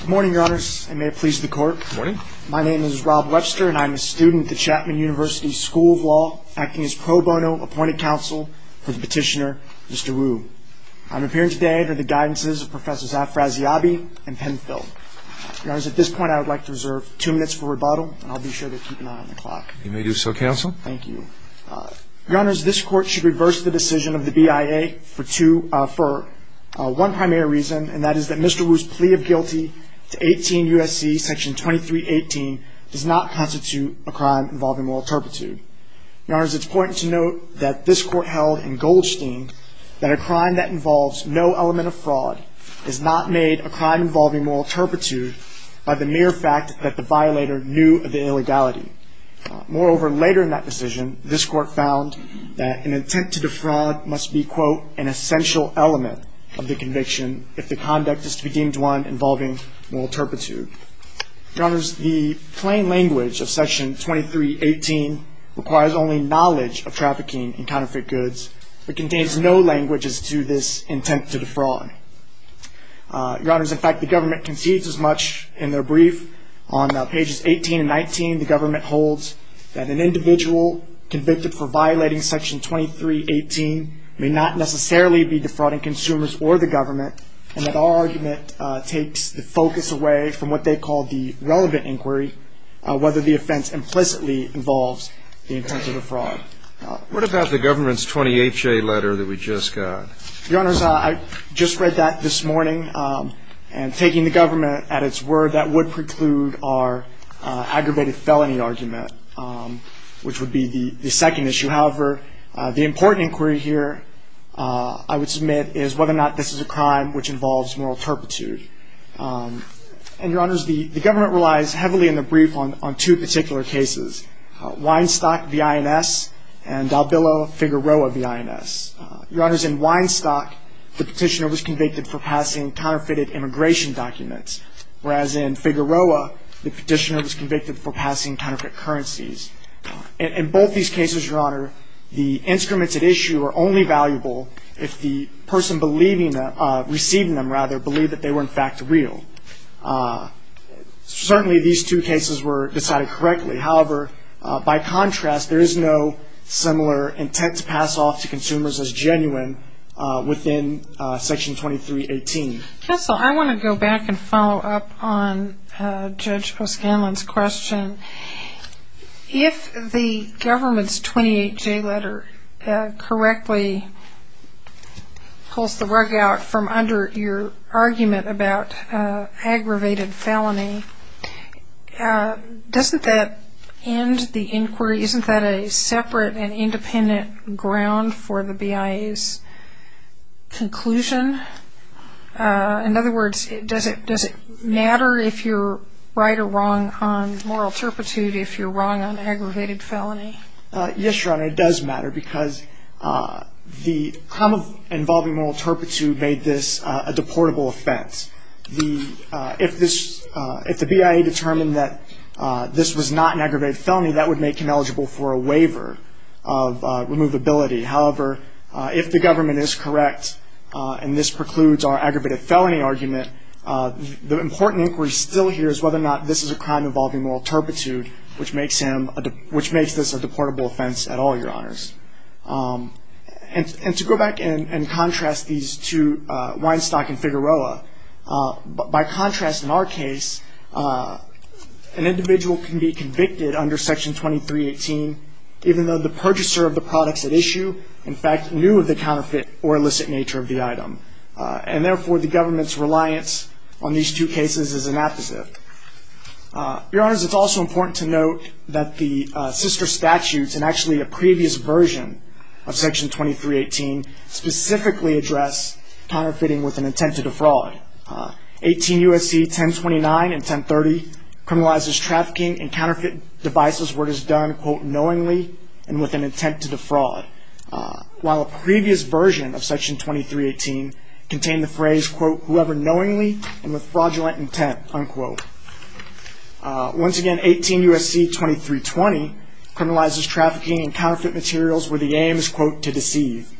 Good morning, your honors, and may it please the court. Good morning. My name is Rob Webster, and I'm a student at the Chapman University School of Law, acting as pro bono appointed counsel for the petitioner, Mr. Wu. I'm appearing today under the guidances of Professors Afraziabi and Penfield. Your honors, at this point I would like to reserve two minutes for rebuttal, and I'll be sure to keep an eye on the clock. You may do so, counsel. Thank you. Your honors, this court should reverse the decision of the BIA for one primary reason, and that is that Mr. Wu's plea of guilty to 18 U.S.C. section 2318 does not constitute a crime involving moral turpitude. Your honors, it's important to note that this court held in Goldstein that a crime that involves no element of fraud is not made a crime involving moral turpitude by the mere fact that the violator knew of the illegality. Moreover, later in that decision, this court found that an attempt to defraud must be, quote, an essential element of the conviction if the conduct is to be deemed one involving moral turpitude. Your honors, the plain language of section 2318 requires only knowledge of trafficking and counterfeit goods, but contains no languages to this intent to defraud. Your honors, in fact, the government concedes as much in their brief. On pages 18 and 19, the government holds that an individual convicted for violating section 2318 may not necessarily be defrauding consumers or the government, and that our argument takes the focus away from what they call the relevant inquiry, whether the offense implicitly involves the intent of the fraud. What about the government's 28-J letter that we just got? Your honors, I just read that this morning, and taking the government at its word, that would preclude our aggravated felony argument, which would be the second issue. However, the important inquiry here, I would submit, is whether or not this is a crime which involves moral turpitude. And your honors, the government relies heavily in the brief on two particular cases, Weinstock v. INS and Dalbillo-Figueroa v. INS. Your honors, in Weinstock, the petitioner was convicted for passing counterfeited immigration documents, whereas in Figueroa, the petitioner was convicted for passing counterfeit currencies. In both these cases, your honor, the instruments at issue are only valuable if the person receiving them, rather, believed that they were, in fact, real. Certainly, these two cases were decided correctly. However, by contrast, there is no similar intent to pass off to consumers as genuine within section 2318. Counsel, I want to go back and follow up on Judge Poscanlon's question. If the government's 28J letter correctly pulls the rug out from under your argument about aggravated felony, doesn't that end the inquiry? Isn't that a separate and independent ground for the BIA's conclusion? In other words, does it matter if you're right or wrong on moral turpitude if you're wrong on aggravated felony? Yes, your honor, it does matter because the crime involving moral turpitude made this a deportable offense. If the BIA determined that this was not an aggravated felony, that would make him eligible for a waiver of removability. However, if the government is correct and this precludes our aggravated felony argument, the important inquiry still here is whether or not this is a crime involving moral turpitude, which makes this a deportable offense at all, your honors. And to go back and contrast these two, Weinstock and Figueroa, by contrast in our case, an individual can be convicted under section 2318 even though the purchaser of the products at issue, in fact, knew of the counterfeit or illicit nature of the item. And therefore, the government's reliance on these two cases is inapposite. Your honors, it's also important to note that the sister statutes and actually a previous version of section 2318 specifically address counterfeiting with an intent to defraud. 18 U.S.C. 1029 and 1030 criminalizes trafficking and counterfeit devices where it is done, quote, knowingly and with an intent to defraud. While a previous version of section 2318 contained the phrase, quote, whoever knowingly and with fraudulent intent, unquote. Once again, 18 U.S.C. 2320 criminalizes trafficking and counterfeit materials where the aim is, quote, to deceive.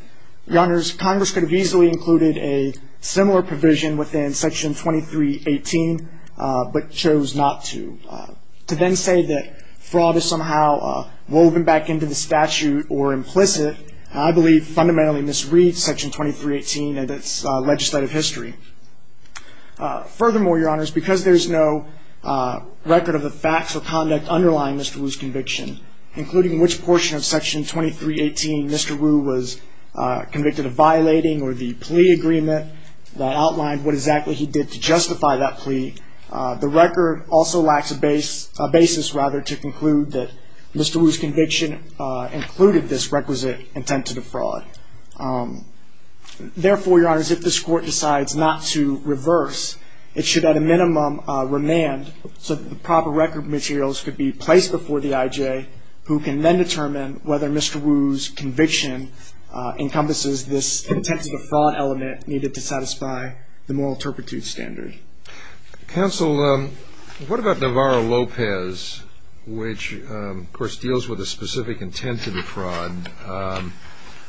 Your honors, Congress could have easily included a similar provision within section 2318, but chose not to. To then say that fraud is somehow woven back into the statute or implicit, I believe fundamentally misreads section 2318 and its legislative history. Furthermore, your honors, because there is no record of the facts or conduct underlying Mr. Wu's conviction, including which portion of section 2318 Mr. Wu was convicted of violating or the plea agreement that outlined what exactly he did to justify that plea, the record also lacks a basis, rather, to conclude that Mr. Wu's conviction included this requisite intent to defraud. Therefore, your honors, if this court decides not to reverse, it should at a minimum remand so that the proper record materials could be placed before the IJ, who can then determine whether Mr. Wu's conviction encompasses this intent to defraud element needed to satisfy the moral turpitude standard. Counsel, what about Navarro-Lopez, which, of course, deals with a specific intent to defraud?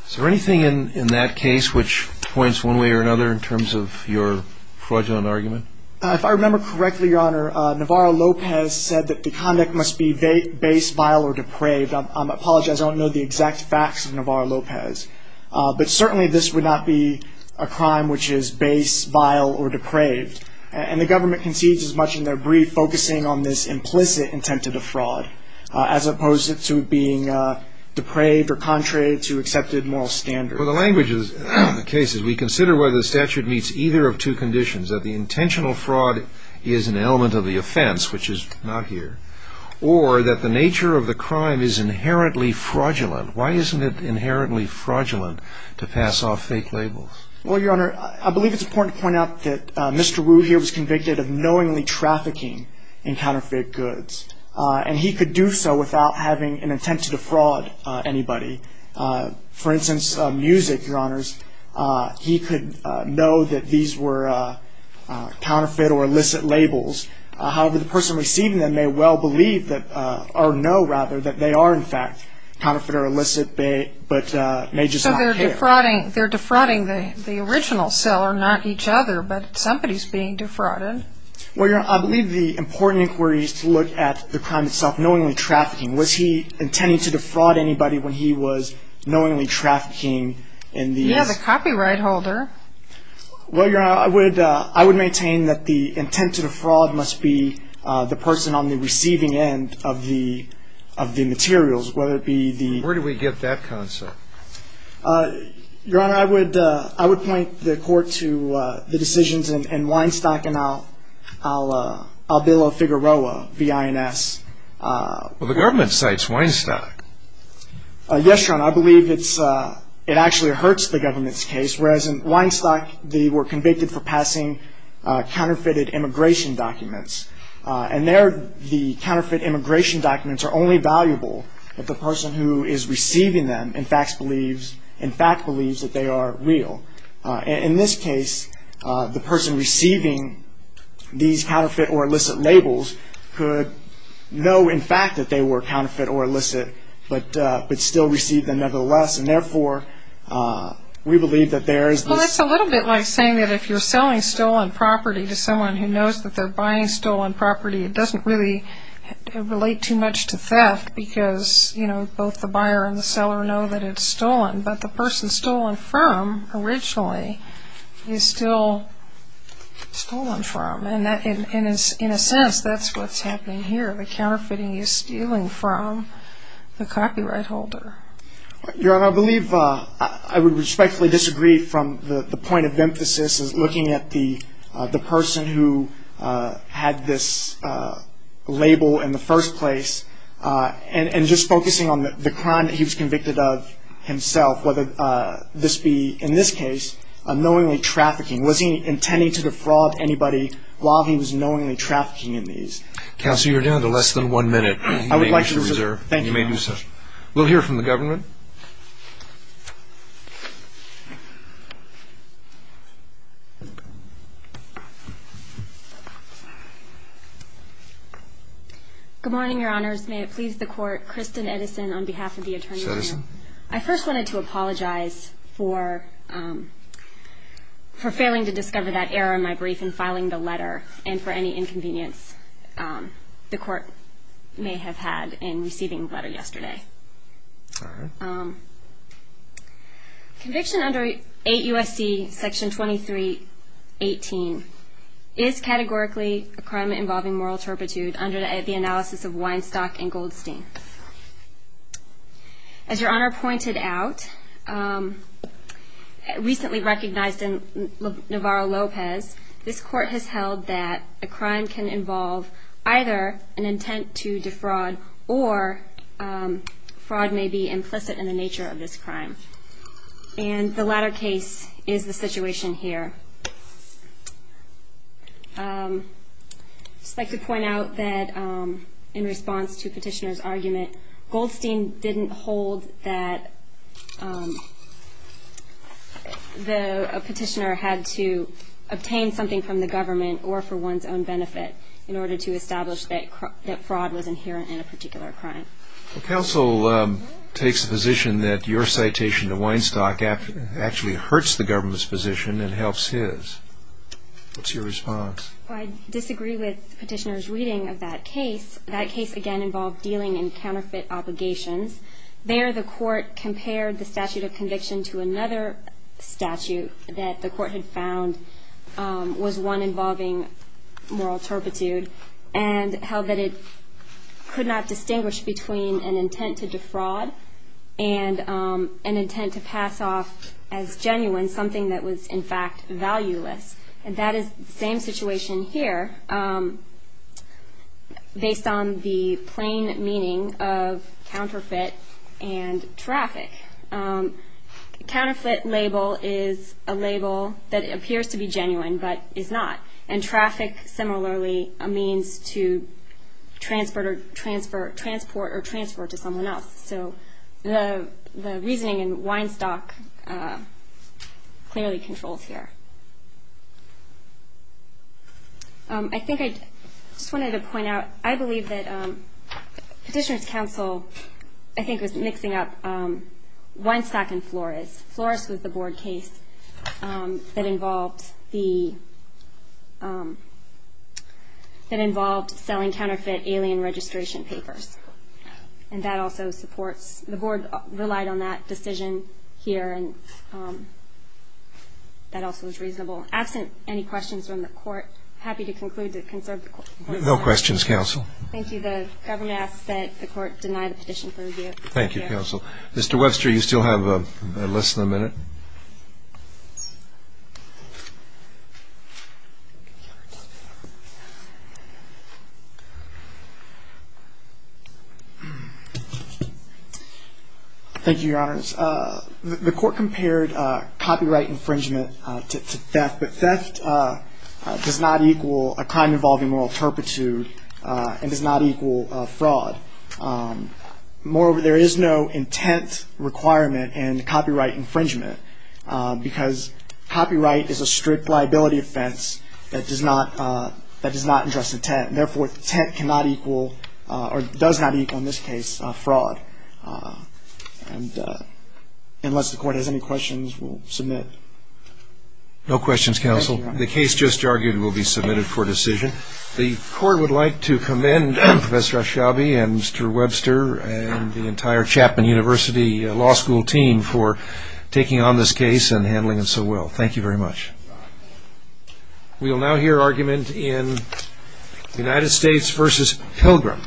Is there anything in that case which points one way or another in terms of your fraudulent argument? If I remember correctly, your honor, Navarro-Lopez said that the conduct must be base, vile, or depraved. I apologize. I don't know the exact facts of Navarro-Lopez. But certainly this would not be a crime which is base, vile, or depraved. And the government concedes as much in their brief focusing on this implicit intent to defraud as opposed to being depraved or contrary to accepted moral standards. Well, the language of the case is we consider whether the statute meets either of two conditions, that the intentional fraud is an element of the offense, which is not here, or that the nature of the crime is inherently fraudulent. Why isn't it inherently fraudulent to pass off fake labels? Well, your honor, I believe it's important to point out that Mr. Wu here was convicted of knowingly trafficking in counterfeit goods. And he could do so without having an intent to defraud anybody. For instance, music, your honors, he could know that these were counterfeit or illicit labels. However, the person receiving them may well believe that, or know rather, that they are in fact counterfeit or illicit, but may just not care. So they're defrauding the original seller, not each other, but somebody's being defrauded. Well, your honor, I believe the important inquiry is to look at the crime itself, knowingly trafficking. Was he intending to defraud anybody when he was knowingly trafficking in these? He has a copyright holder. Well, your honor, I would maintain that the intent to defraud must be the person on the receiving end of the materials, whether it be the- Where do we get that concept? Your honor, I would point the court to the decisions in Weinstock and Albilo-Figueroa v. INS. Well, the government cites Weinstock. Yes, your honor, I believe it actually hurts the government's case, whereas in Weinstock they were convicted for passing counterfeited immigration documents. And there the counterfeit immigration documents are only valuable if the person who is receiving them in fact believes that they are real. In this case, the person receiving these counterfeit or illicit labels could know in fact that they were counterfeit or illicit, but still receive them nevertheless, and therefore we believe that there is this- Well, that's a little bit like saying that if you're selling stolen property to someone who knows that they're buying stolen property, it doesn't really relate too much to theft because, you know, both the buyer and the seller know that it's stolen. But the person stolen from originally is still stolen from. And in a sense, that's what's happening here. The counterfeiting is stealing from the copyright holder. Your honor, I believe I would respectfully disagree from the point of emphasis as looking at the person who had this label in the first place and just focusing on the crime that he was convicted of himself, whether this be, in this case, knowingly trafficking. Was he intending to defraud anybody while he was knowingly trafficking in these? Counsel, you're down to less than one minute. I would like to reserve. Thank you, your honor. We'll hear from the government. Good morning, your honors. May it please the court. Kristen Edison on behalf of the attorney general. I first wanted to apologize for failing to discover that error in my brief in filing the letter and for any inconvenience the court may have had in receiving the letter yesterday. Okay. Conviction under 8 U.S.C. Section 2318 is categorically a crime involving moral turpitude under the analysis of Weinstock and Goldstein. As your honor pointed out, recently recognized in Navarro-Lopez, this court has held that a crime can involve either an intent to defraud or fraud may be implicit in the nature of this crime. And the latter case is the situation here. I'd just like to point out that in response to petitioner's argument, Goldstein didn't hold that a petitioner had to obtain something from the government or for one's own benefit in order to establish that fraud was inherent in a particular crime. Counsel takes the position that your citation to Weinstock actually hurts the government's position and helps his. What's your response? I disagree with petitioner's reading of that case. That case, again, involved dealing in counterfeit obligations. There, the court compared the statute of conviction to another statute that the court had found was one involving moral turpitude and held that it could not distinguish between an intent to defraud and an intent to pass off as genuine something that was, in fact, valueless. And that is the same situation here based on the plain meaning of counterfeit and traffic. Counterfeit label is a label that appears to be genuine but is not. And traffic, similarly, a means to transport or transfer to someone else. So the reasoning in Weinstock clearly controls here. I think I just wanted to point out, I believe that petitioner's counsel, I think, was mixing up Weinstock and Flores. Flores was the board case that involved the, that involved selling counterfeit alien registration papers. And that also supports, the board relied on that decision here and that also was reasonable. Absent any questions from the court, happy to conclude to conserve the court's time. No questions, counsel. Thank you. The government asks that the court deny the petition for review. Thank you, counsel. Mr. Webster, you still have less than a minute. Thank you, Your Honors. The court compared copyright infringement to theft. But theft does not equal a crime involving moral turpitude and does not equal fraud. Moreover, there is no intent requirement in copyright infringement. Because copyright is a strict liability offense that does not address intent. Therefore, intent cannot equal or does not equal, in this case, fraud. Unless the court has any questions, we'll submit. No questions, counsel. The case just argued will be submitted for decision. The court would like to commend Professor Ashabi and Mr. Webster and the entire Chapman University Law School team for taking on this case and handling it so well. Thank you very much. We will now hear argument in United States v. Pilgrim.